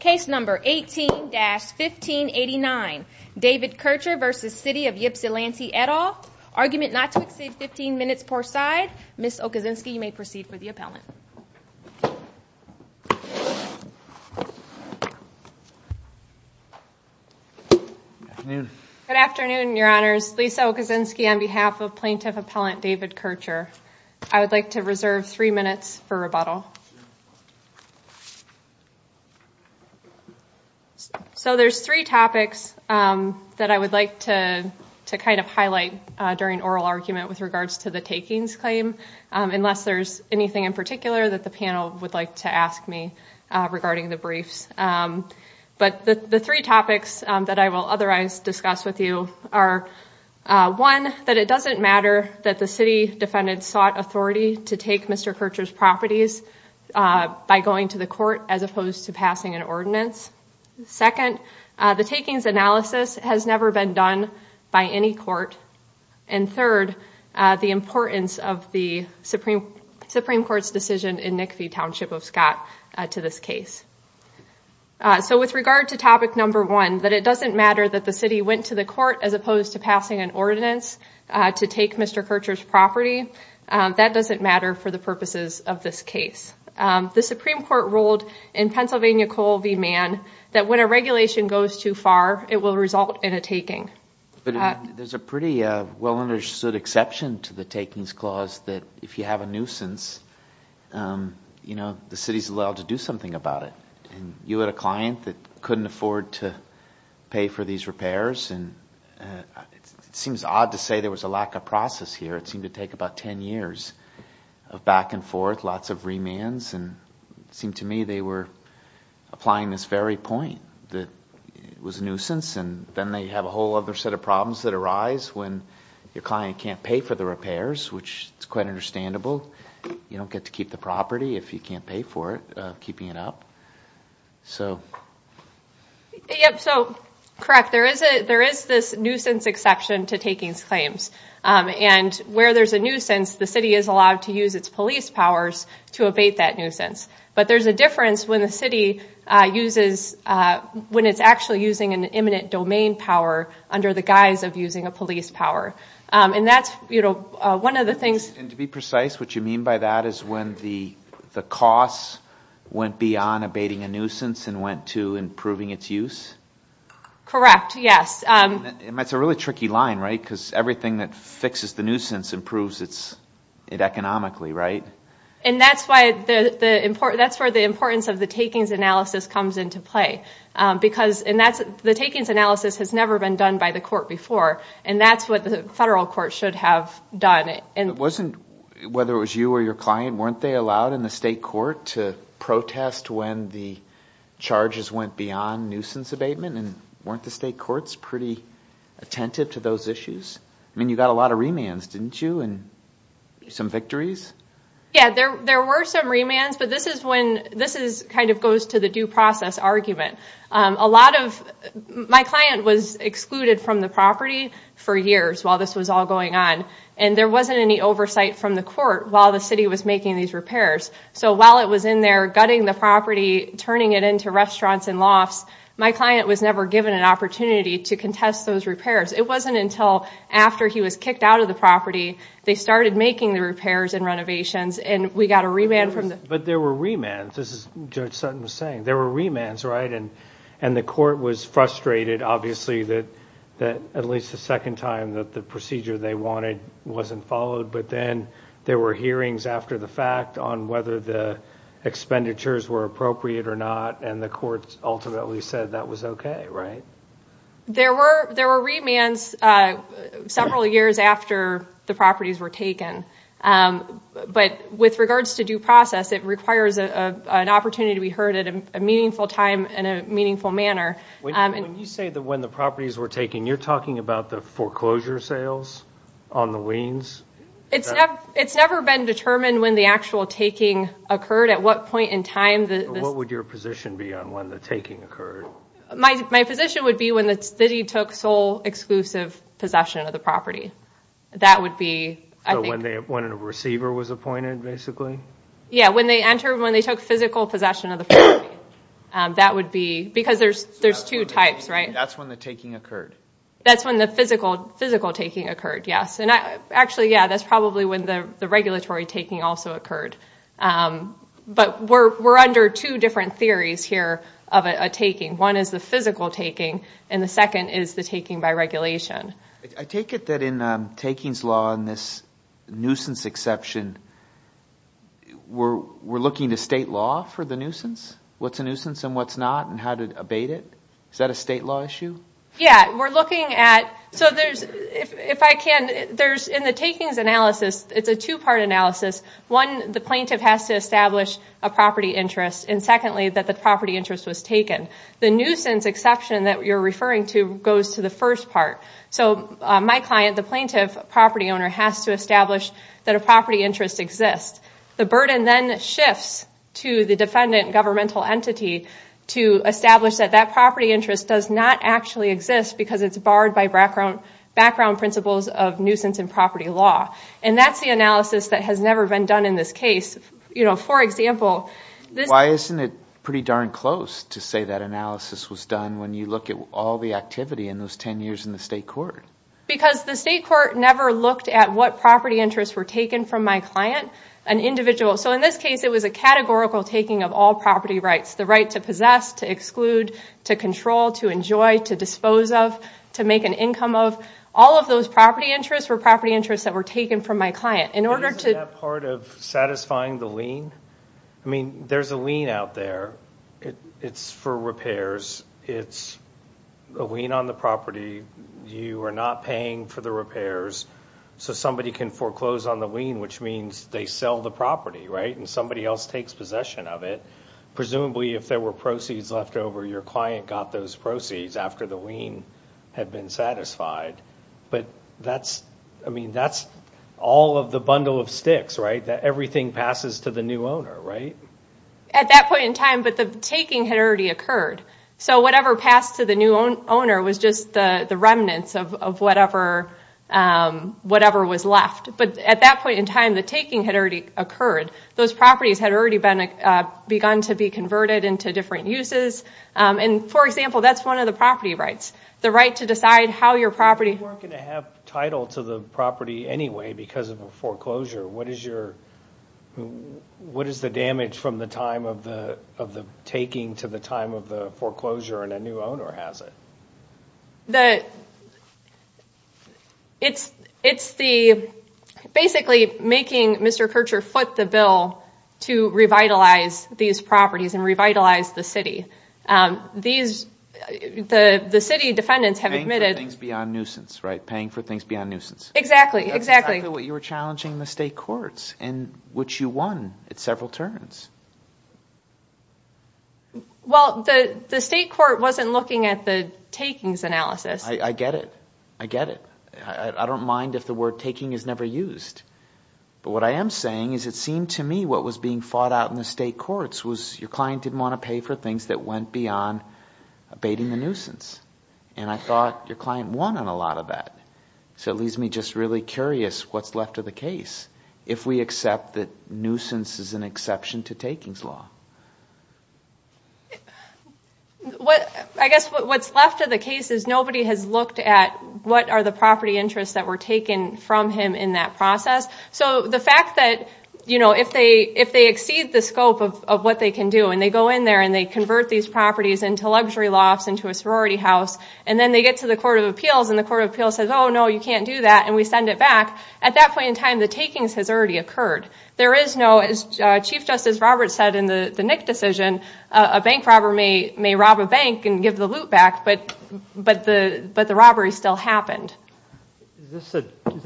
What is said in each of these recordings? Case number 18-1589, David Kircher v. City of Ypsilanti, et al. Argument not to exceed 15 minutes per side. Ms. Okazinski, you may proceed for the appellant. Good afternoon. Good afternoon, your honors. Lisa Okazinski on behalf of Plaintiff Appellant David Kircher. I would like to reserve three minutes for rebuttal. So there's three topics that I would like to kind of highlight during oral argument with regards to the takings claim, unless there's anything in particular that the panel would like to ask me regarding the briefs. But the three topics that I will otherwise discuss with you are, one, that it doesn't matter that the city defendant sought authority to take Mr. Kircher's properties by going to the court as opposed to passing an ordinance. Second, the takings analysis has never been done by any court. And third, the importance of the Supreme Court's decision in Nickfee Township v. Scott to this case. So with regard to topic number one, that it doesn't matter that the city went to the court as opposed to passing an ordinance to take Mr. Kircher's property. That doesn't matter for the purposes of this case. The Supreme Court ruled in Pennsylvania Coal v. Mann that when a regulation goes too far, it will result in a taking. But there's a pretty well-understood exception to the takings clause that if you have a nuisance, the city's allowed to do something about it. You had a client that couldn't afford to pay for these repairs, and it seems odd to say there was a lack of process here. It seemed to take about 10 years of back and forth, lots of remands, and it seemed to me they were applying this very point that it was a nuisance, and then they have a whole other set of problems that arise when your client can't pay for the repairs, which is quite understandable. You don't get to keep the property if you can't pay for it, keeping it up. Yep, so correct. There is this nuisance exception to takings claims. And where there's a nuisance, the city is allowed to use its police powers to abate that nuisance. But there's a difference when the city uses when it's actually using an imminent domain power under the guise of using a police power. And that's one of the things. And to be precise, what you mean by that is when the costs went beyond abating a nuisance and went to improving its use? Correct, yes. That's a really tricky line, right, because everything that fixes the nuisance improves it economically, right? And that's where the importance of the takings analysis comes into play. The takings analysis has never been done by the court before, and that's what the federal court should have done. Whether it was you or your client, weren't they allowed in the state court to protest when the charges went beyond nuisance abatement? And weren't the state courts pretty attentive to those issues? I mean, you got a lot of remands, didn't you, and some victories? Yeah, there were some remands, but this kind of goes to the due process argument. A lot of my client was excluded from the property for years while this was all going on, and there wasn't any oversight from the court while the city was making these repairs. So while it was in there gutting the property, turning it into restaurants and lofts, my client was never given an opportunity to contest those repairs. It wasn't until after he was kicked out of the property they started making the repairs and renovations, and we got a remand from the... But there were remands, as Judge Sutton was saying. There were remands, right? And the court was frustrated, obviously, that at least the second time that the procedure they wanted wasn't followed, but then there were hearings after the fact on whether the expenditures were appropriate or not, and the court ultimately said that was okay, right? There were remands several years after the properties were taken, but with regards to due process, it requires an opportunity to be heard at a meaningful time in a meaningful manner. When you say that when the properties were taken, you're talking about the foreclosure sales on the weans? It's never been determined when the actual taking occurred, at what point in time... What would your position be on when the taking occurred? My position would be when the city took sole exclusive possession of the property. That would be, I think... So when a receiver was appointed, basically? Yeah, when they entered, when they took physical possession of the property. That would be... Because there's two types, right? That's when the taking occurred. That's when the physical taking occurred, yes. Actually, yeah, that's probably when the regulatory taking also occurred. But we're under two different theories here of a taking. One is the physical taking, and the second is the taking by regulation. I take it that in takings law, in this nuisance exception, we're looking to state law for the nuisance? What's a nuisance and what's not, and how to abate it? Is that a state law issue? Yeah, we're looking at... So if I can... In the takings analysis, it's a two-part analysis. One, the plaintiff has to establish a property interest, and secondly, that the property interest was taken. The nuisance exception that you're referring to goes to the first part. So my client, the plaintiff property owner, has to establish that a property interest exists. The burden then shifts to the defendant governmental entity to establish that that property interest does not actually exist because it's barred by background principles of nuisance and property law. And that's the analysis that has never been done in this case. For example... Why isn't it pretty darn close to say that analysis was done when you look at all the activity in those 10 years in the state court? Because the state court never looked at what property interests were taken from my client, an individual. So in this case, it was a categorical taking of all property rights. The right to possess, to exclude, to control, to enjoy, to dispose of, to make an income of. So all of those property interests were property interests that were taken from my client. Isn't that part of satisfying the lien? I mean, there's a lien out there. It's for repairs. It's a lien on the property. You are not paying for the repairs. So somebody can foreclose on the lien, which means they sell the property, right? And somebody else takes possession of it. Presumably, if there were proceeds left over, your client got those proceeds after the lien had been satisfied. But that's all of the bundle of sticks, right? Everything passes to the new owner, right? At that point in time, but the taking had already occurred. So whatever passed to the new owner was just the remnants of whatever was left. But at that point in time, the taking had already occurred. Those properties had already begun to be converted into different uses. And, for example, that's one of the property rights, the right to decide how your property- You weren't going to have title to the property anyway because of a foreclosure. What is the damage from the taking to the time of the foreclosure and a new owner has it? The- It's the- Basically, making Mr. Kircher foot the bill to revitalize these properties and revitalize the city. These- The city defendants have admitted- Paying for things beyond nuisance, right? Paying for things beyond nuisance. Exactly, exactly. That's exactly what you were challenging in the state courts, in which you won at several turns. Well, the state court wasn't looking at the takings analysis. I get it. I get it. I don't mind if the word taking is never used. But what I am saying is it seemed to me what was being fought out in the state courts was your client didn't want to pay for things that went beyond abating the nuisance. And I thought your client won on a lot of that. So it leaves me just really curious what's left of the case if we accept that nuisance is an exception to takings law. I guess what's left of the case is nobody has looked at what are the property interests that were taken from him in that process. So the fact that if they exceed the scope of what they can do and they go in there and they convert these properties into luxury lofts, into a sorority house, and then they get to the court of appeals and the court of appeals says, oh, no, you can't do that, and we send it back. At that point in time, the takings has already occurred. There is no, as Chief Justice Roberts said in the Nick decision, a bank robber may rob a bank and give the loot back, but the robbery still happened. Is that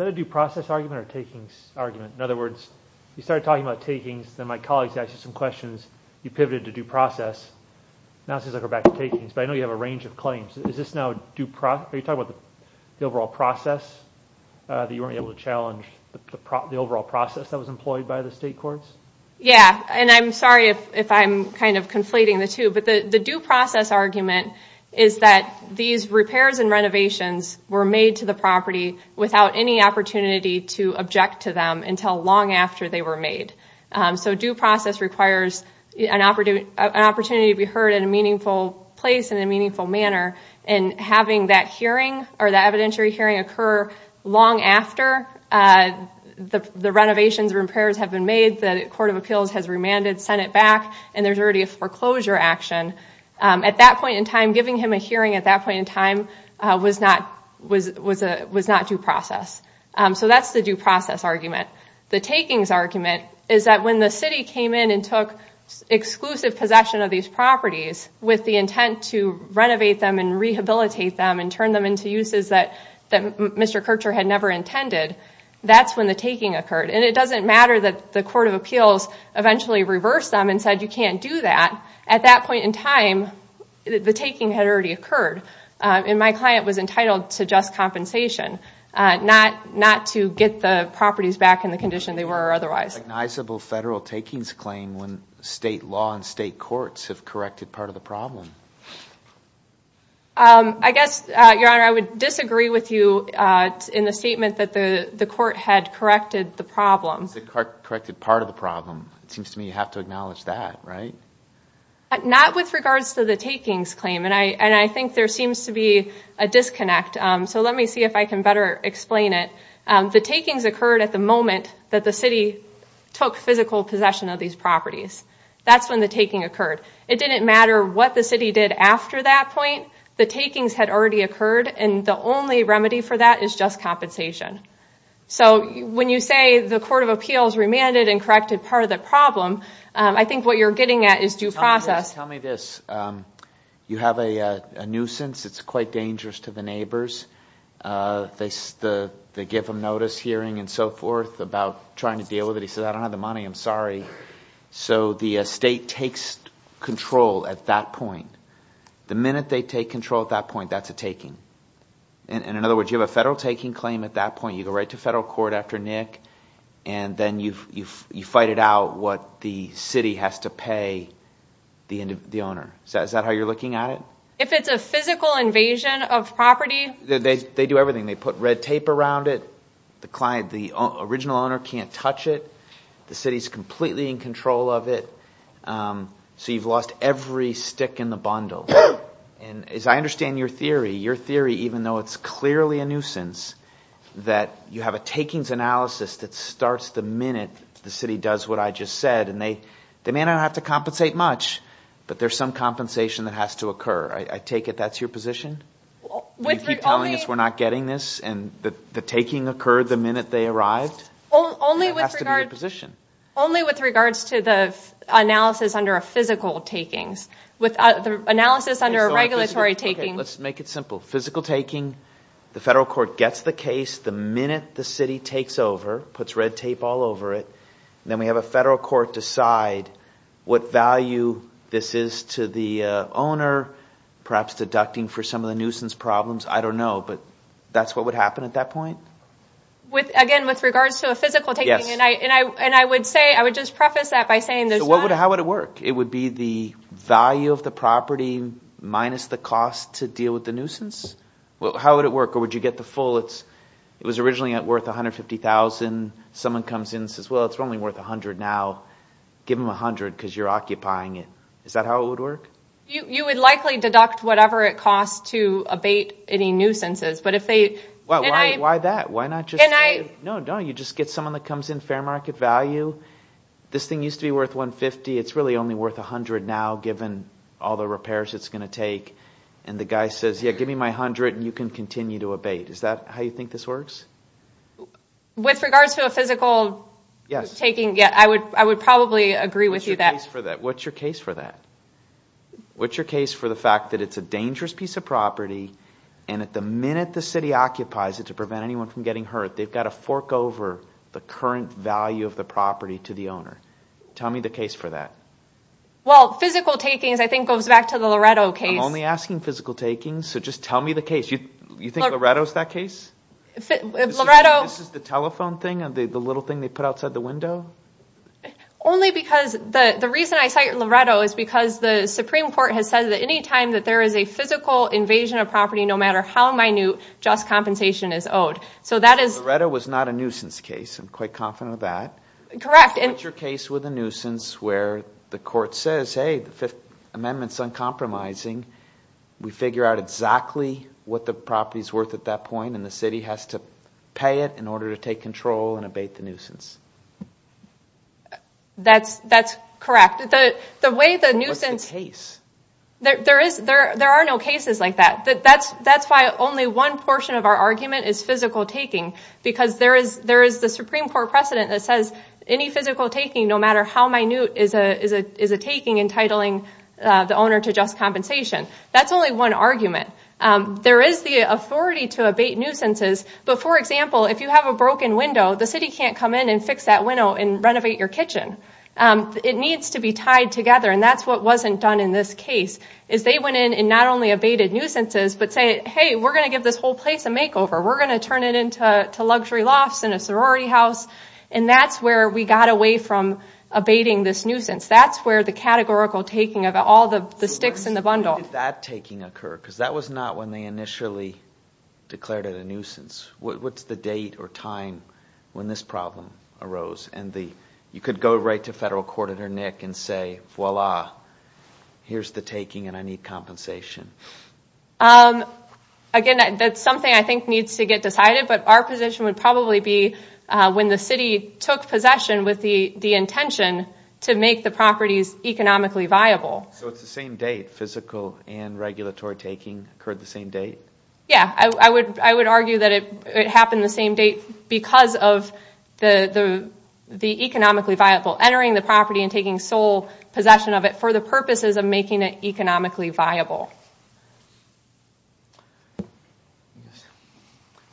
a due process argument or a takings argument? In other words, you started talking about takings, then my colleagues asked you some questions, you pivoted to due process, now it seems like we're back to takings. But I know you have a range of claims. Are you talking about the overall process that you weren't able to challenge, the overall process that was employed by the state courts? Yeah, and I'm sorry if I'm kind of conflating the two, but the due process argument is that these repairs and renovations were made to the property without any opportunity to object to them until long after they were made. So due process requires an opportunity to be heard in a meaningful place in a meaningful manner, and having that hearing or the evidentiary hearing occur long after the renovations or repairs have been made, the Court of Appeals has remanded, sent it back, and there's already a foreclosure action, at that point in time, giving him a hearing at that point in time was not due process. So that's the due process argument. The takings argument is that when the city came in and took exclusive possession of these properties with the intent to renovate them and rehabilitate them and turn them into uses that Mr. Kircher had never intended, that's when the taking occurred. And it doesn't matter that the Court of Appeals eventually reversed them and said you can't do that. At that point in time, the taking had already occurred, and my client was entitled to just compensation, not to get the properties back in the condition they were otherwise. What is the recognizable federal takings claim when state law and state courts have corrected part of the problem? I guess, Your Honor, I would disagree with you in the statement that the court had corrected the problem. Corrected part of the problem. It seems to me you have to acknowledge that, right? Not with regards to the takings claim, and I think there seems to be a disconnect. So let me see if I can better explain it. The takings occurred at the moment that the city took physical possession of these properties. That's when the taking occurred. It didn't matter what the city did after that point. The takings had already occurred, and the only remedy for that is just compensation. So when you say the Court of Appeals remanded and corrected part of the problem, I think what you're getting at is due process. Tell me this. You have a nuisance that's quite dangerous to the neighbors. They give him notice, hearing, and so forth about trying to deal with it. He says, I don't have the money, I'm sorry. So the state takes control at that point. The minute they take control at that point, that's a taking. In other words, you have a federal taking claim at that point. You go right to federal court after Nick, and then you fight it out what the city has to pay the owner. Is that how you're looking at it? If it's a physical invasion of property... They do everything. They put red tape around it. The original owner can't touch it. The city is completely in control of it. So you've lost every stick in the bundle. As I understand your theory, your theory, even though it's clearly a nuisance, that you have a takings analysis that starts the minute the city does what I just said, and they may not have to compensate much, but there's some compensation that has to occur. I take it that's your position? You keep telling us we're not getting this, and the taking occurred the minute they arrived? That has to be your position. Only with regards to the analysis under a physical taking. The analysis under a regulatory taking... Let's make it simple. Physical taking, the federal court gets the case the minute the city takes over, puts red tape all over it. Then we have a federal court decide what value this is to the owner, perhaps deducting for some of the nuisance problems. I don't know, but that's what would happen at that point? Again, with regards to a physical taking. I would just preface that by saying there's not... How would it work? It would be the value of the property minus the cost to deal with the nuisance? How would it work? Or would you get the full? It was originally worth $150,000. Someone comes in and says, well, it's only worth $100,000 now. Give them $100,000 because you're occupying it. Is that how it would work? You would likely deduct whatever it costs to abate any nuisances. Why that? Why not just say, no, no, you just get someone that comes in fair market value. This thing used to be worth $150,000. It's really only worth $100,000 now given all the repairs it's going to take. The guy says, yeah, give me my $100,000 and you can continue to abate. Is that how you think this works? With regards to a physical taking, I would probably agree with you that... What's your case for that? What's your case for the fact that it's a dangerous piece of property and at the minute the city occupies it to prevent anyone from getting hurt, they've got to fork over the current value of the property to the owner. Tell me the case for that. Well, physical takings, I think, goes back to the Loretto case. I'm only asking physical takings, so just tell me the case. You think Loretto's that case? Loretto... This is the telephone thing, the little thing they put outside the window? Only because the reason I cite Loretto is because the Supreme Court has said that any time that there is a physical invasion of property, no matter how minute, just compensation is owed. So that is... Loretto was not a nuisance case. I'm quite confident of that. Correct. What's your case with a nuisance where the court says, hey, the Fifth Amendment's uncompromising, we figure out exactly what the property's worth at that point and the city has to pay it in order to take control and abate the nuisance? That's correct. The way the nuisance... What's the case? There are no cases like that. That's why only one portion of our argument is physical taking, because there is the Supreme Court precedent that says any physical taking, no matter how minute, is a taking entitling the owner to just compensation. That's only one argument. There is the authority to abate nuisances, but, for example, if you have a broken window, the city can't come in and fix that window and renovate your kitchen. It needs to be tied together, and that's what wasn't done in this case. They went in and not only abated nuisances, but said, hey, we're going to give this whole place a makeover. We're going to turn it into luxury lofts and a sorority house, and that's where we got away from abating this nuisance. That's where the categorical taking of all the sticks in the bundle... When did that taking occur? Because that was not when they initially declared it a nuisance. What's the date or time when this problem arose? You could go right to federal court editor Nick and say, voila, here's the taking, and I need compensation. Again, that's something I think needs to get decided, but our position would probably be when the city took possession with the intention to make the properties economically viable. So it's the same date. Physical and regulatory taking occurred the same date? Yeah. I would argue that it happened the same date because of the economically viable. Entering the property and taking sole possession of it for the purposes of making it economically viable. All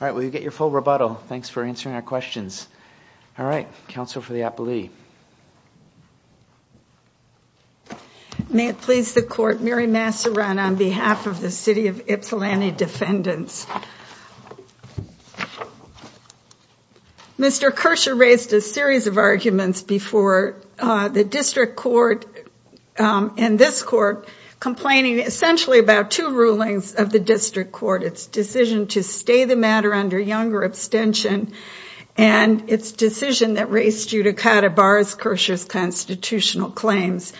right. We'll get your full rebuttal. Thanks for answering our questions. All right. Counsel for the appellee. May it please the court. Mary Massaran on behalf of the City of Ypsilanti Defendants. Mr. Kirscher raised a series of arguments before the district court and this court complaining essentially about two rulings of the district court. Its decision to stay the matter under younger abstention and its decision that raised Judicata Barr's Kirscher's constitutional claims.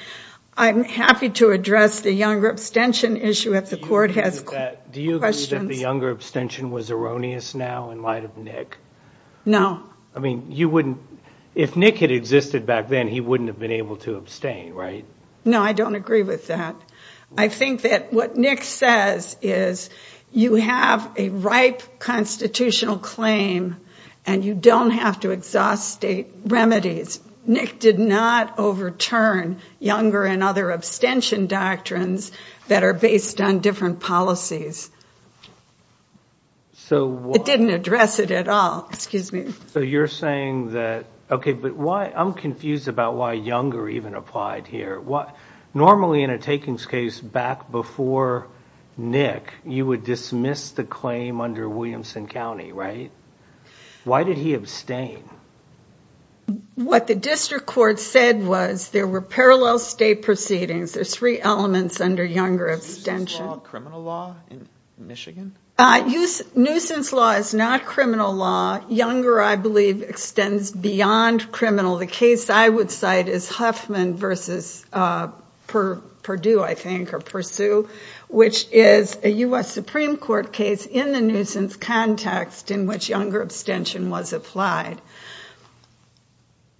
I'm happy to address the younger abstention issue if the court has questions. Do you agree that the younger abstention was erroneous now in light of Nick? No. I mean, if Nick had existed back then, he wouldn't have been able to abstain, right? No, I don't agree with that. I think that what Nick says is, you have a ripe constitutional claim and you don't have to exhaust state remedies. Nick did not overturn younger and other abstention doctrines that are based on different policies. It didn't address it at all. Excuse me. So you're saying that, okay, but I'm confused about why younger even applied here. Normally in a takings case back before Nick, you would dismiss the claim under Williamson County, right? Why did he abstain? What the district court said was there were parallel state proceedings. There's three elements under younger abstention. Is nuisance law criminal law in Michigan? Nuisance law is not criminal law. Younger, I believe, extends beyond criminal. The case I would cite is Huffman v. Purdue, I think, or Pursue, which is a U.S. Supreme Court case in the nuisance context in which younger abstention was applied.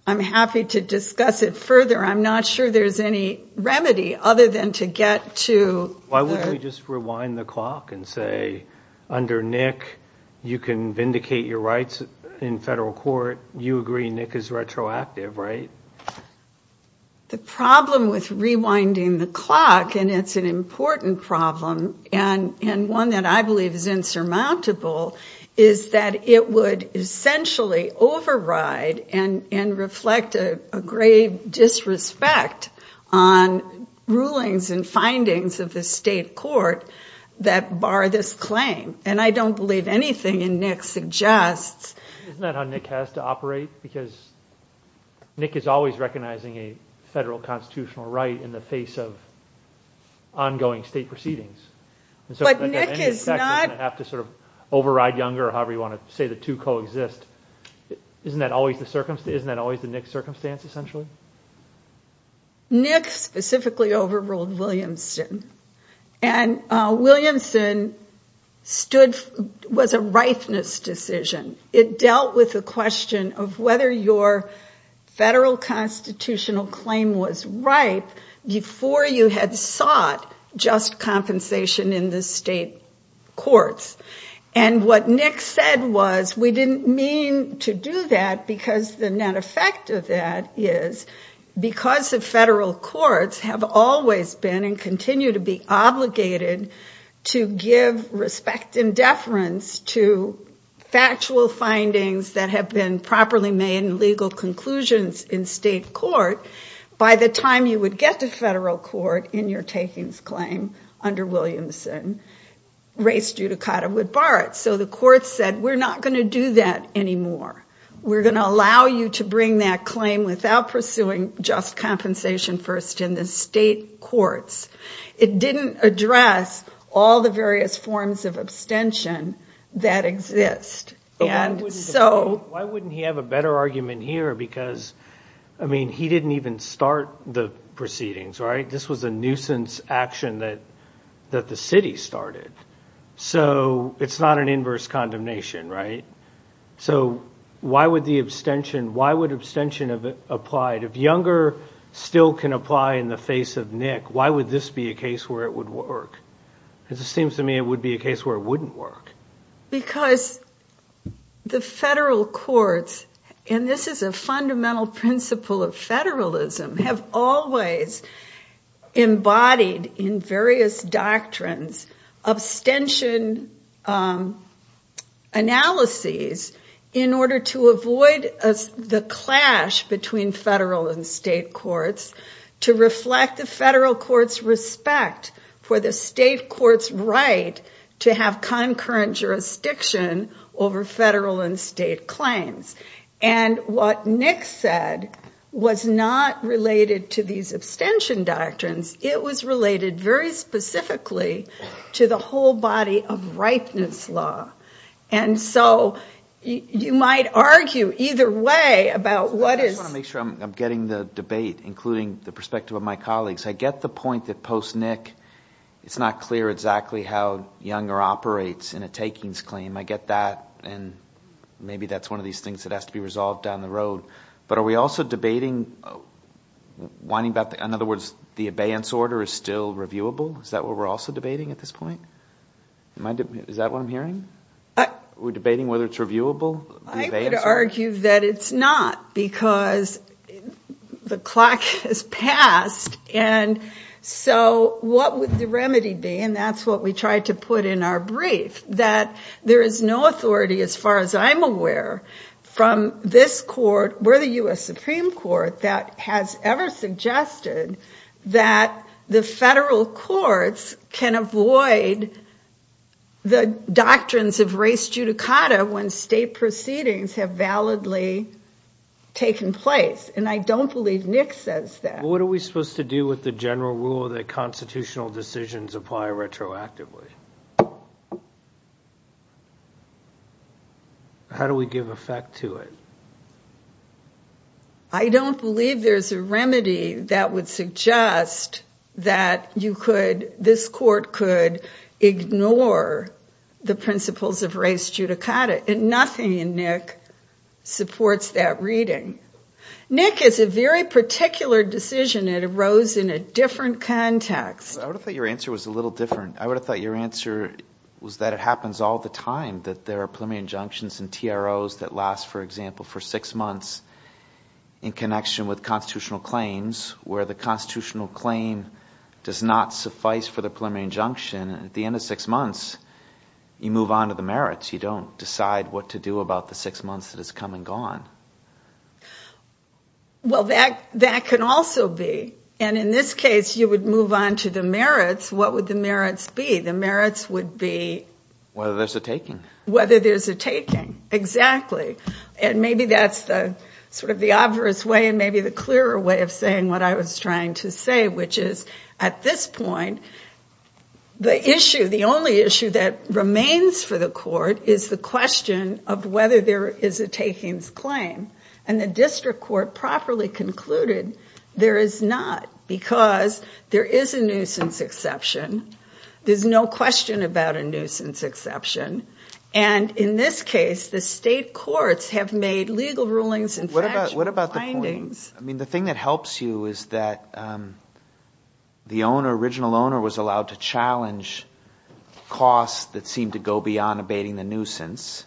I'm happy to discuss it further. I'm not sure there's any remedy other than to get to the... Why wouldn't we just rewind the clock and say, under Nick, you can vindicate your rights in federal court. You agree Nick is retroactive, right? The problem with rewinding the clock, and it's an important problem and one that I believe is insurmountable, is that it would essentially override and reflect a grave disrespect on rulings and findings of the state court that bar this claim. And I don't believe anything in Nick suggests... Isn't that how Nick has to operate? Because Nick is always recognizing a federal constitutional right in the face of ongoing state proceedings. But Nick is not... You have to override younger or however you want to say the two coexist. Isn't that always the Nick circumstance, essentially? Nick specifically overruled Williamson. And Williamson was a ripeness decision. It dealt with the question of whether your federal constitutional claim was ripe before you had sought just compensation in the state courts. And what Nick said was, we didn't mean to do that because the net effect of that is, because the federal courts have always been and continue to be obligated to give respect and deference to factual findings that have been properly made in legal conclusions in state court, by the time you would get to federal court in your takings claim under Williamson, race judicata would bar it. So the court said, we're not going to do that anymore. We're going to allow you to bring that claim without pursuing just compensation first in the state courts. It didn't address all the various forms of abstention that exist. And so... Why wouldn't he have a better argument here? Because, I mean, he didn't even start the proceedings, right? This was a nuisance action that the city started. So it's not an inverse condemnation, right? So why would the abstention, why would abstention have applied? If Younger still can apply in the face of Nick, why would this be a case where it would work? Because it seems to me it would be a case where it wouldn't work. Because the federal courts, and this is a fundamental principle of federalism, have always embodied in various doctrines abstention analyses in order to avoid the clash between federal and state courts, to reflect the federal court's respect for the state court's right to have concurrent jurisdiction over federal and state claims. And what Nick said was not related to these abstention doctrines. It was related very specifically to the whole body of ripeness law. And so you might argue either way about what is... I just want to make sure I'm getting the debate, including the perspective of my colleagues. I get the point that post-Nick, it's not clear exactly how Younger operates in a takings claim. I get that. And maybe that's one of these things that has to be resolved down the road. But are we also debating... In other words, the abeyance order is still reviewable? Is that what we're also debating at this point? Is that what I'm hearing? We're debating whether it's reviewable? I would argue that it's not, because the clock has passed. And so what would the remedy be? And that's what we tried to put in our brief, that there is no authority, as far as I'm aware, from this court or the U.S. Supreme Court that has ever suggested that the federal courts can avoid the doctrines of race judicata when state proceedings have validly taken place. And I don't believe Nick says that. What are we supposed to do with the general rule that constitutional decisions apply retroactively? How do we give effect to it? I don't believe there's a remedy that would suggest that this court could ignore the principles of race judicata. Nothing in Nick supports that reading. Nick is a very particular decision. It arose in a different context. I would have thought your answer was a little different. I would have thought your answer was that it happens all the time, that there are preliminary injunctions and TROs that last, for example, for six months in connection with constitutional claims, where the constitutional claim does not suffice for the preliminary injunction. At the end of six months, you move on to the merits. You don't decide what to do about the six months that has come and gone. And in this case, you would move on to the merits. What would the merits be? The merits would be... Whether there's a taking. Whether there's a taking, exactly. And maybe that's sort of the obvious way and maybe the clearer way of saying what I was trying to say, which is, at this point, the issue, the only issue that remains for the court is the question of whether there is a takings claim. And the district court properly concluded there is not because there is a nuisance exception. There's no question about a nuisance exception. And in this case, the state courts have made legal rulings and factual findings... What about the point... I mean, the thing that helps you is that the owner, original owner, was allowed to challenge costs that seemed to go beyond abating the nuisance,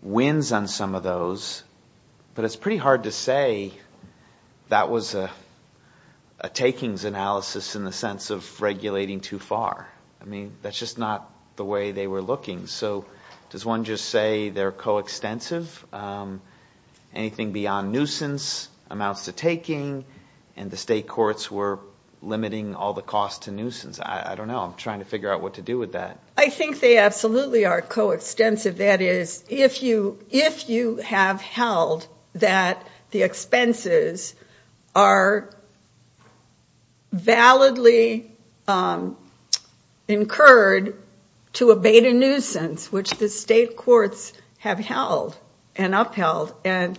wins on some of those, but it's pretty hard to say that was a takings analysis in the sense of regulating too far. I mean, that's just not the way they were looking. So does one just say they're coextensive? Anything beyond nuisance amounts to taking, and the state courts were limiting all the costs to nuisance. I don't know. I'm trying to figure out what to do with that. I think they absolutely are coextensive. That is, if you have held that the expenses are validly incurred to abate a nuisance, which the state courts have held and upheld and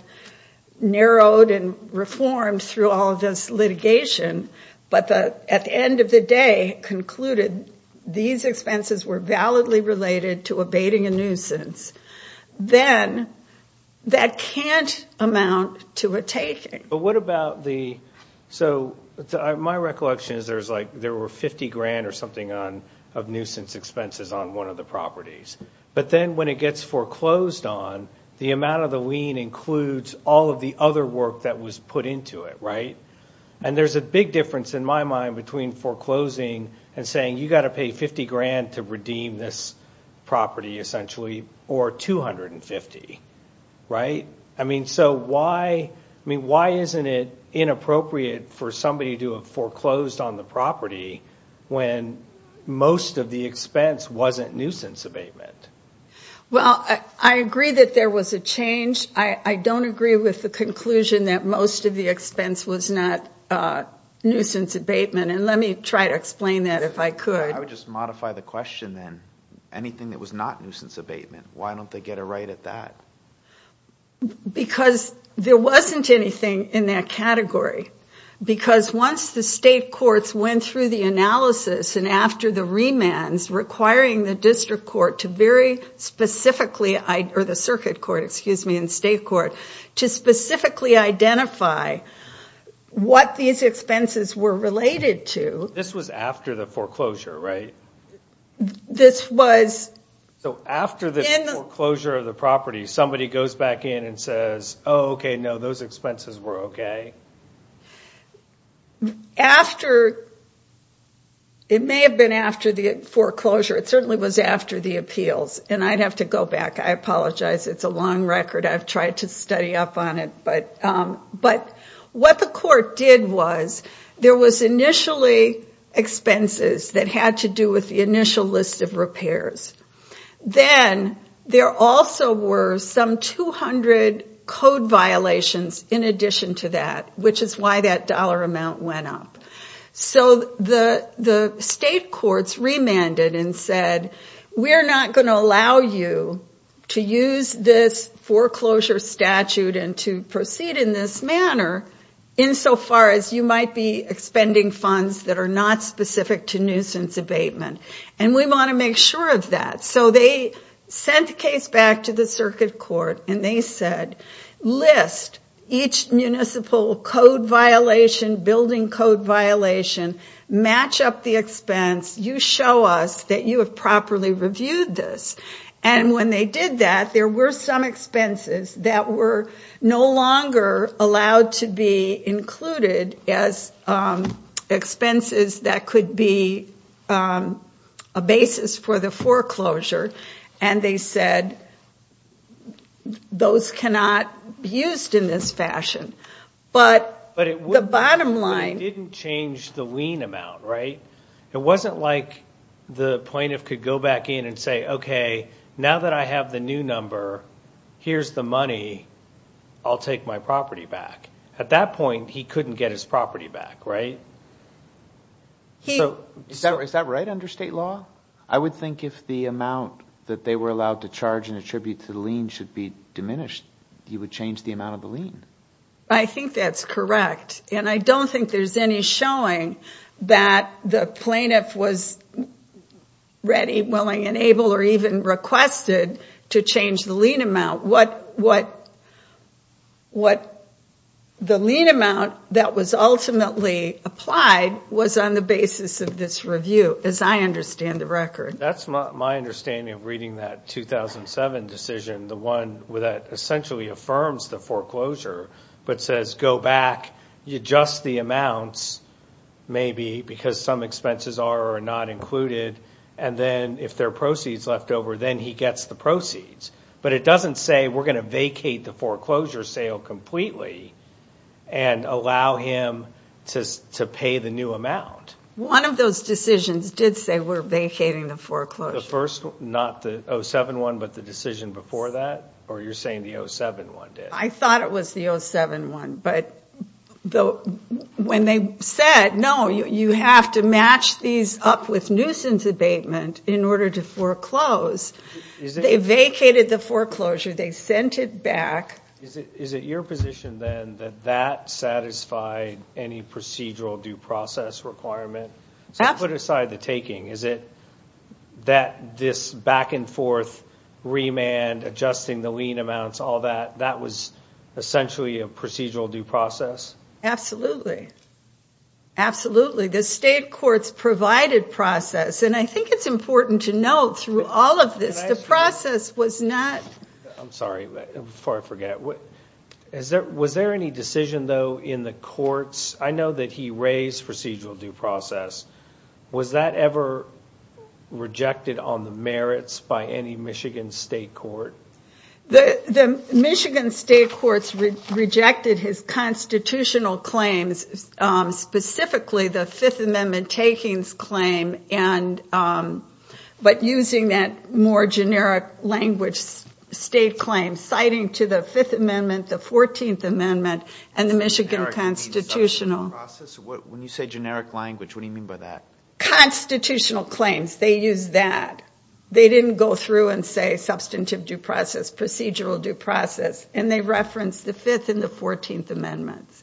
narrowed and reformed through all of this litigation, but at the end of the day concluded these expenses were validly related to abating a nuisance, then that can't amount to a taking. But what about the... So my recollection is there were 50 grand or something of nuisance expenses on one of the properties, but then when it gets foreclosed on, the amount of the lien includes all of the other work that was put into it, right? And there's a big difference in my mind between foreclosing and saying you've got to pay 50 grand to redeem this property, essentially, or 250, right? I mean, so why isn't it inappropriate for somebody to have foreclosed on the property when most of the expense wasn't nuisance abatement? Well, I agree that there was a change. I don't agree with the conclusion that most of the expense was not nuisance abatement. And let me try to explain that if I could. I would just modify the question then. Anything that was not nuisance abatement, why don't they get a right at that? Because there wasn't anything in that category. Because once the state courts went through the analysis and after the remands requiring the district court to very specifically... Or the circuit court, excuse me, and state court, to specifically identify what these expenses were related to... This was after the foreclosure, right? This was... So after the foreclosure of the property, somebody goes back in and says, oh, okay, no, those expenses were okay? After... It may have been after the foreclosure. It certainly was after the appeals. And I'd have to go back. I apologize. It's a long record. I've tried to study up on it. But what the court did was there was initially expenses that had to do with the initial list of repairs. Then there also were some 200 code violations in addition to that, which is why that dollar amount went up. So the state courts remanded and said, we're not going to allow you to use this foreclosure statute and to proceed in this manner insofar as you might be expending funds that are not specific to nuisance abatement. And we want to make sure of that. So they sent the case back to the circuit court and they said, list each municipal code violation, building code violation. Match up the expense. You show us that you have properly reviewed this. And when they did that, there were some expenses that were no longer allowed to be included as expenses that could be a basis for the foreclosure. And they said, those cannot be used in this fashion. But the bottom line... But it didn't change the lien amount, right? It wasn't like the plaintiff could go back in and say, okay, now that I have the new number, here's the money, I'll take my property back. At that point, he couldn't get his property back, right? Is that right under state law? I would think if the amount that they were allowed to charge and attribute to the lien should be diminished, he would change the amount of the lien. I think that's correct. And I don't think there's any showing that the plaintiff was ready, willing, and able, or even requested to change the lien amount. What the lien amount that was ultimately applied was on the basis of this review, as I understand the record. That's my understanding of reading that 2007 decision, the one that essentially affirms the foreclosure, but says go back, adjust the amounts, maybe, because some expenses are or are not included, and then if there are proceeds left over, then he gets the proceeds. But it doesn't say we're going to vacate the foreclosure sale completely and allow him to pay the new amount. One of those decisions did say we're vacating the foreclosure. The first one, not the 2007 one, but the decision before that? Or you're saying the 2007 one did? I thought it was the 2007 one, but when they said, no, you have to match these up with nuisance abatement in order to foreclose, they vacated the foreclosure. They sent it back. Is it your position then that that satisfied any procedural due process requirement? Absolutely. So put aside the taking. Is it that this back-and-forth remand, adjusting the lien amounts, all that, that was essentially a procedural due process? Absolutely. Absolutely. The state court's provided process, and I think it's important to note through all of this, the process was not. I'm sorry. Before I forget, was there any decision, though, in the courts? I know that he raised procedural due process. Was that ever rejected on the merits by any Michigan state court? The Michigan state courts rejected his constitutional claims, specifically the Fifth Amendment takings claim, but using that more generic language state claim, citing to the Fifth Amendment, the Fourteenth Amendment, and the Michigan constitutional. When you say generic language, what do you mean by that? Constitutional claims. They used that. They didn't go through and say substantive due process, procedural due process, and they referenced the Fifth and the Fourteenth Amendments.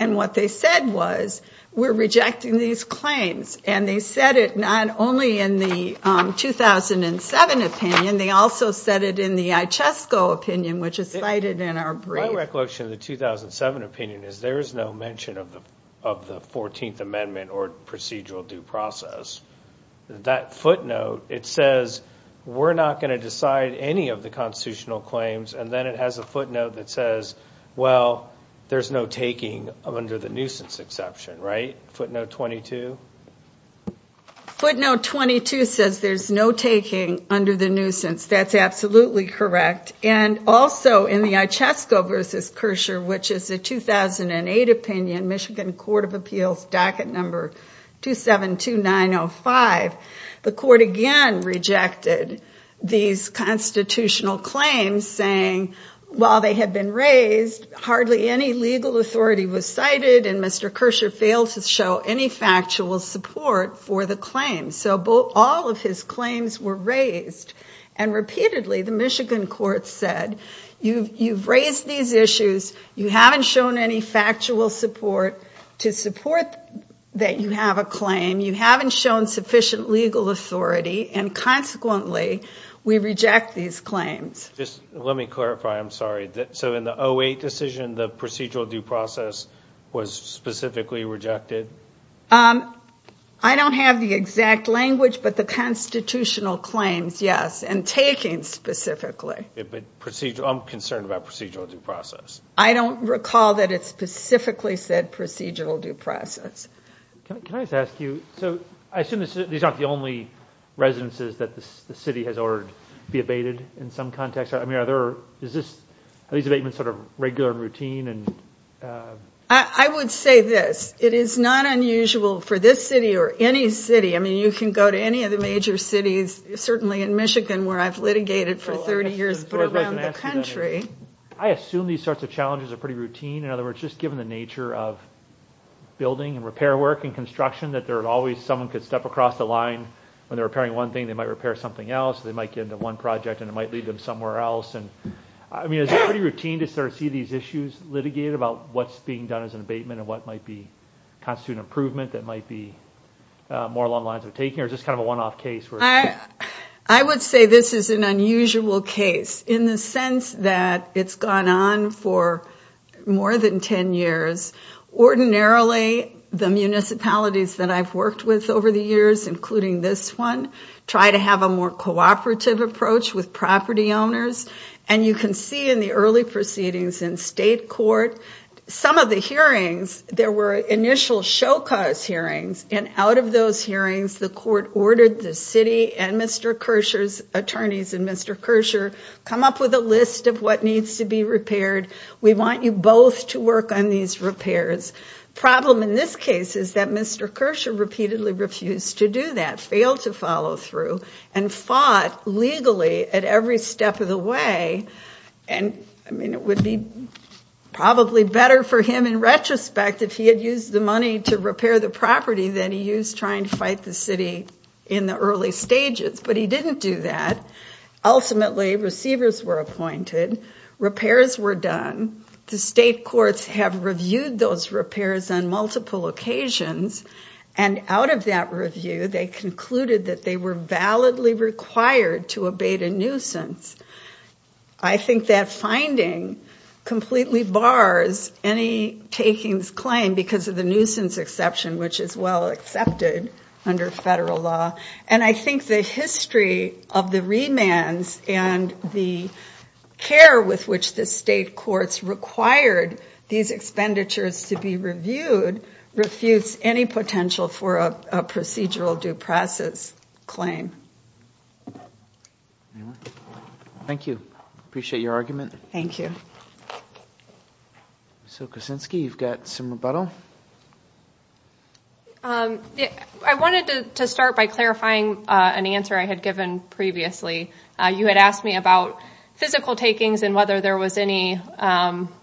And what they said was, we're rejecting these claims, and they said it not only in the 2007 opinion, they also said it in the Ichesco opinion, which is cited in our brief. My recollection of the 2007 opinion is there is no mention of the Fourteenth Amendment or procedural due process. That footnote, it says, we're not going to decide any of the constitutional claims, and then it has a footnote that says, well, there's no taking under the nuisance exception, right? Footnote 22? Footnote 22 says there's no taking under the nuisance. That's absolutely correct. And also in the Ichesco v. Kerscher, which is a 2008 opinion, Michigan Court of Appeals, docket number 272905, the court again rejected these constitutional claims, saying while they had been raised, hardly any legal authority was cited, and Mr. Kerscher failed to show any factual support for the claims. So all of his claims were raised, and repeatedly the Michigan court said, you've raised these issues, you haven't shown any factual support to support that you have a claim, you haven't shown sufficient legal authority, and consequently we reject these claims. Let me clarify, I'm sorry. So in the 2008 decision, the procedural due process was specifically rejected? I don't have the exact language, but the constitutional claims, yes, and taking specifically. I'm concerned about procedural due process. I don't recall that it specifically said procedural due process. Can I just ask you, so I assume these aren't the only residences that the city has ordered to be abated in some context? I mean, are these abatements sort of regular and routine? I would say this. It is not unusual for this city or any city, I mean, you can go to any of the major cities, certainly in Michigan where I've litigated for 30 years, but around the country. I assume these sorts of challenges are pretty routine. In other words, just given the nature of building and repair work and construction, that there are always someone could step across the line when they're repairing one thing, they might repair something else. They might get into one project and it might lead them somewhere else. I mean, is it pretty routine to sort of see these issues litigated about what's being done as an abatement and what might constitute an improvement that might be more along the lines of taking or just kind of a one-off case? I would say this is an unusual case in the sense that it's gone on for more than 10 years. Ordinarily the municipalities that I've worked with over the years, including this one, try to have a more cooperative approach with property owners. And you can see in the early proceedings in state court, some of the hearings, there were initial show cause hearings and out of those hearings, the court ordered the city and Mr. Kersher's attorneys and Mr. Kersher come up with a list of what needs to be repaired. We want you both to work on these repairs. Problem in this case is that Mr. Kersher repeatedly refused to do that, failed to follow through and fought legally at every step of the way. And I mean, it would be probably better for him in retrospect if he had used the money to repair the property that he used trying to fight the city in the early stages, but he didn't do that. Ultimately receivers were appointed, repairs were done. The state courts have reviewed those repairs on multiple occasions. And out of that review, I think that finding completely bars any takings claim because of the nuisance exception, which is well accepted under federal law. And I think the history of the remands and the care with which the state courts required these expenditures to be reviewed, refuse any potential for a procedural due process claim. Thank you. Appreciate your argument. Thank you. So Kosinski, you've got some rebuttal. I wanted to start by clarifying an answer I had given previously. You had asked me about physical takings and whether there was any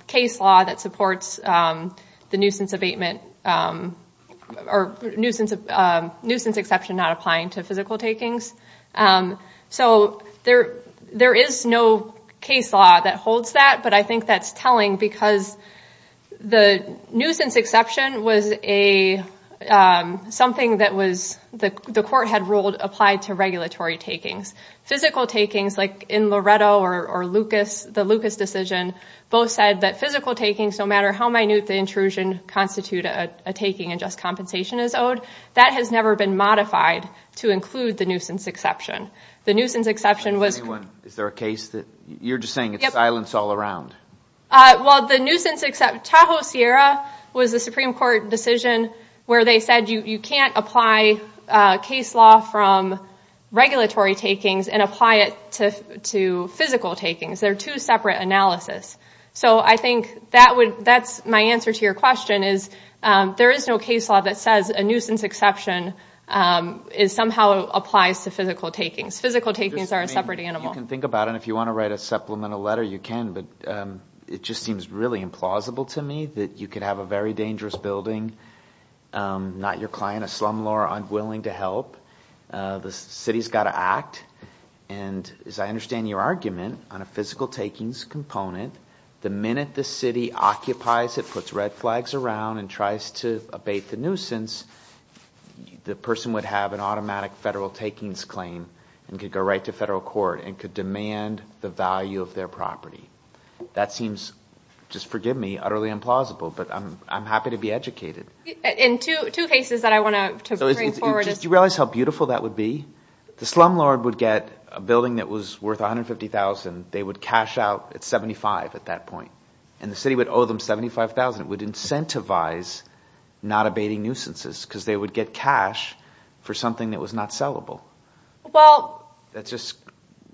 case law that supports the nuisance abatement or nuisance, nuisance exception, not applying to physical takings. So there, there is no case law that holds that, but I think that's telling because the nuisance exception was a something that was the court had ruled applied to regulatory takings, physical takings like in Loretto or Lucas, the Lucas decision both said that physical takings, no matter how minute the intrusion constitute a taking and just a nuisance exception. The nuisance exception was, is there a case that you're just saying it's silence all around? Well, the nuisance, except Tahoe Sierra was the Supreme court decision where they said you, you can't apply a case law from regulatory takings and apply it to, to physical takings. They're two separate analysis. So I think that would, that's my answer to your question is there is no case law that says a physical takings, physical takings are a separate animal. Think about it. If you want to write a supplemental letter, you can, but it just seems really implausible to me that you could have a very dangerous building. I'm not your client, a slumlord, unwilling to help. The city's got to act. And as I understand your argument on a physical takings component, the minute the city occupies, it puts red flags around and tries to abate the nuisance. The person would have an automatic federal takings claim and could go right to federal court and could demand the value of their property. That seems just forgive me, utterly implausible, but I'm, I'm happy to be educated in two cases that I want to bring forward. Do you realize how beautiful that would be? The slumlord would get a building that was worth 150,000. They would cash out at 75 at that point. And the city would owe them 75,000. It would incentivize not abating nuisances because they would get cash for something that was not sellable. Well, that's just,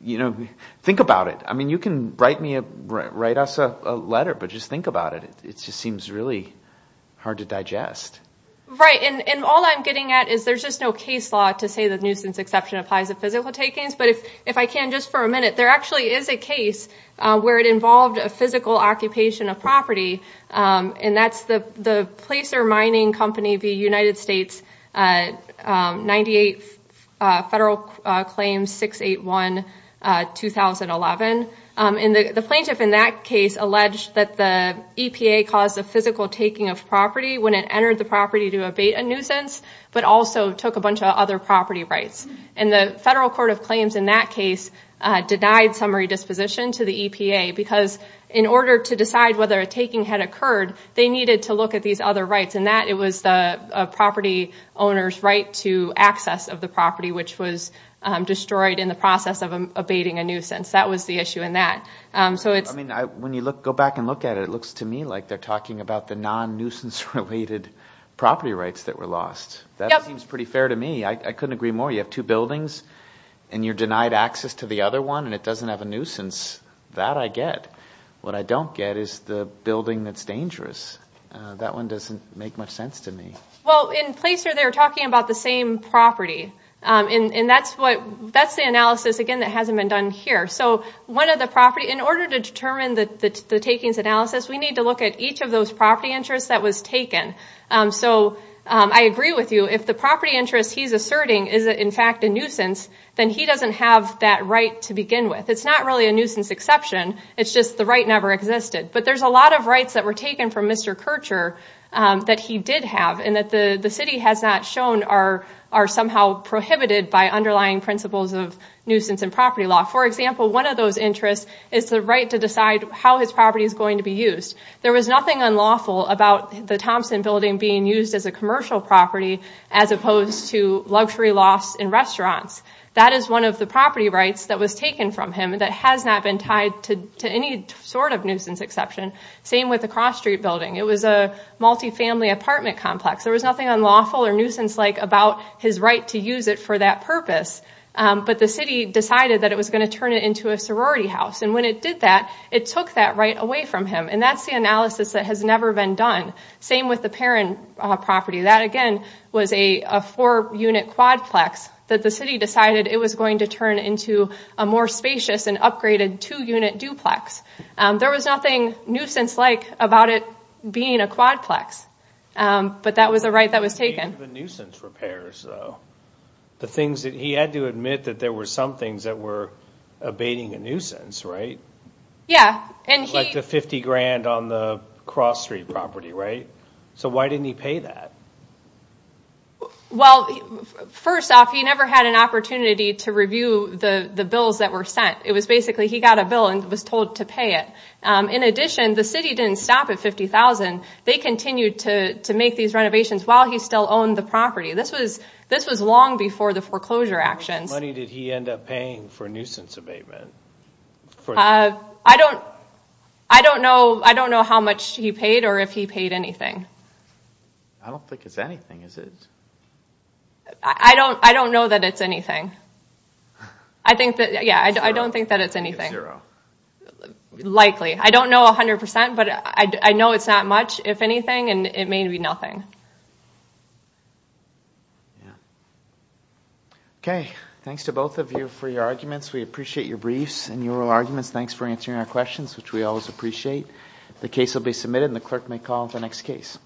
you know, think about it. I mean, you can write me a, write us a letter, but just think about it. It just seems really hard to digest. Right. And all I'm getting at is there's just no case law to say that nuisance exception applies to physical takings. But if, if I can, just for a minute, there actually is a case where it involved a physical occupation of property. And that's the, the placer mining company, the United States 98 federal claims, 681 2011. And the plaintiff in that case alleged that the EPA caused a physical taking of property when it entered the property to abate a nuisance, but also took a bunch of other property rights. And the federal court of claims in that case denied summary disposition to the They needed to look at these other rights and that it was the property owner's right to access of the property, which was destroyed in the process of abating a nuisance. That was the issue in that. So it's. I mean, I, when you look, go back and look at it, it looks to me like they're talking about the non nuisance related property rights that were lost. That seems pretty fair to me. I couldn't agree more. You have two buildings and you're denied access to the other one and it doesn't have a nuisance that I get. What I don't get is the building that's dangerous. That one doesn't make much sense to me. Well in place or they're talking about the same property. And that's what, that's the analysis again, that hasn't been done here. So one of the property in order to determine the takings analysis, we need to look at each of those property interests that was taken. So I agree with you. If the property interest he's asserting is in fact a nuisance, then he doesn't have that right to begin with. It's not really a nuisance exception. It's just the right never existed, but there's a lot of rights that were taken from Mr. Kircher that he did have and that the city has not shown are, are somehow prohibited by underlying principles of nuisance and property law. For example, one of those interests is the right to decide how his property is going to be used. There was nothing unlawful about the Thompson building being used as a commercial property, as opposed to luxury loss in restaurants. That is one of the property rights that was taken from him. That has not been tied to any sort of nuisance exception. Same with the cross street building. It was a multifamily apartment complex. There was nothing unlawful or nuisance like about his right to use it for that purpose. But the city decided that it was going to turn it into a sorority house. And when it did that, it took that right away from him. And that's the analysis that has never been done. Same with the Perron property. That again was a four unit quadplex that the city decided it was going to turn into an upgraded two unit duplex. There was nothing nuisance like about it being a quadplex. But that was the right that was taken. The nuisance repairs though. The things that he had to admit that there were some things that were abating a nuisance, right? Yeah. Like the 50 grand on the cross street property, right? So why didn't he pay that? Well, first off, he never had an opportunity to review the bills that were sent. It was basically he got a bill and was told to pay it. In addition, the city didn't stop at 50,000. They continued to make these renovations while he still owned the property. This was long before the foreclosure actions. How much money did he end up paying for nuisance abatement? I don't know how much he paid or if he paid anything. I don't think it's anything, is it? I don't know that it's anything. Yeah, I don't think that it's anything. It's zero. Likely. I don't know 100%, but I know it's not much, if anything, and it may be nothing. Yeah. Okay. Thanks to both of you for your arguments. We appreciate your briefs and your arguments. Thanks for answering our questions, which we always appreciate. The case will be submitted, and the clerk may call the next case.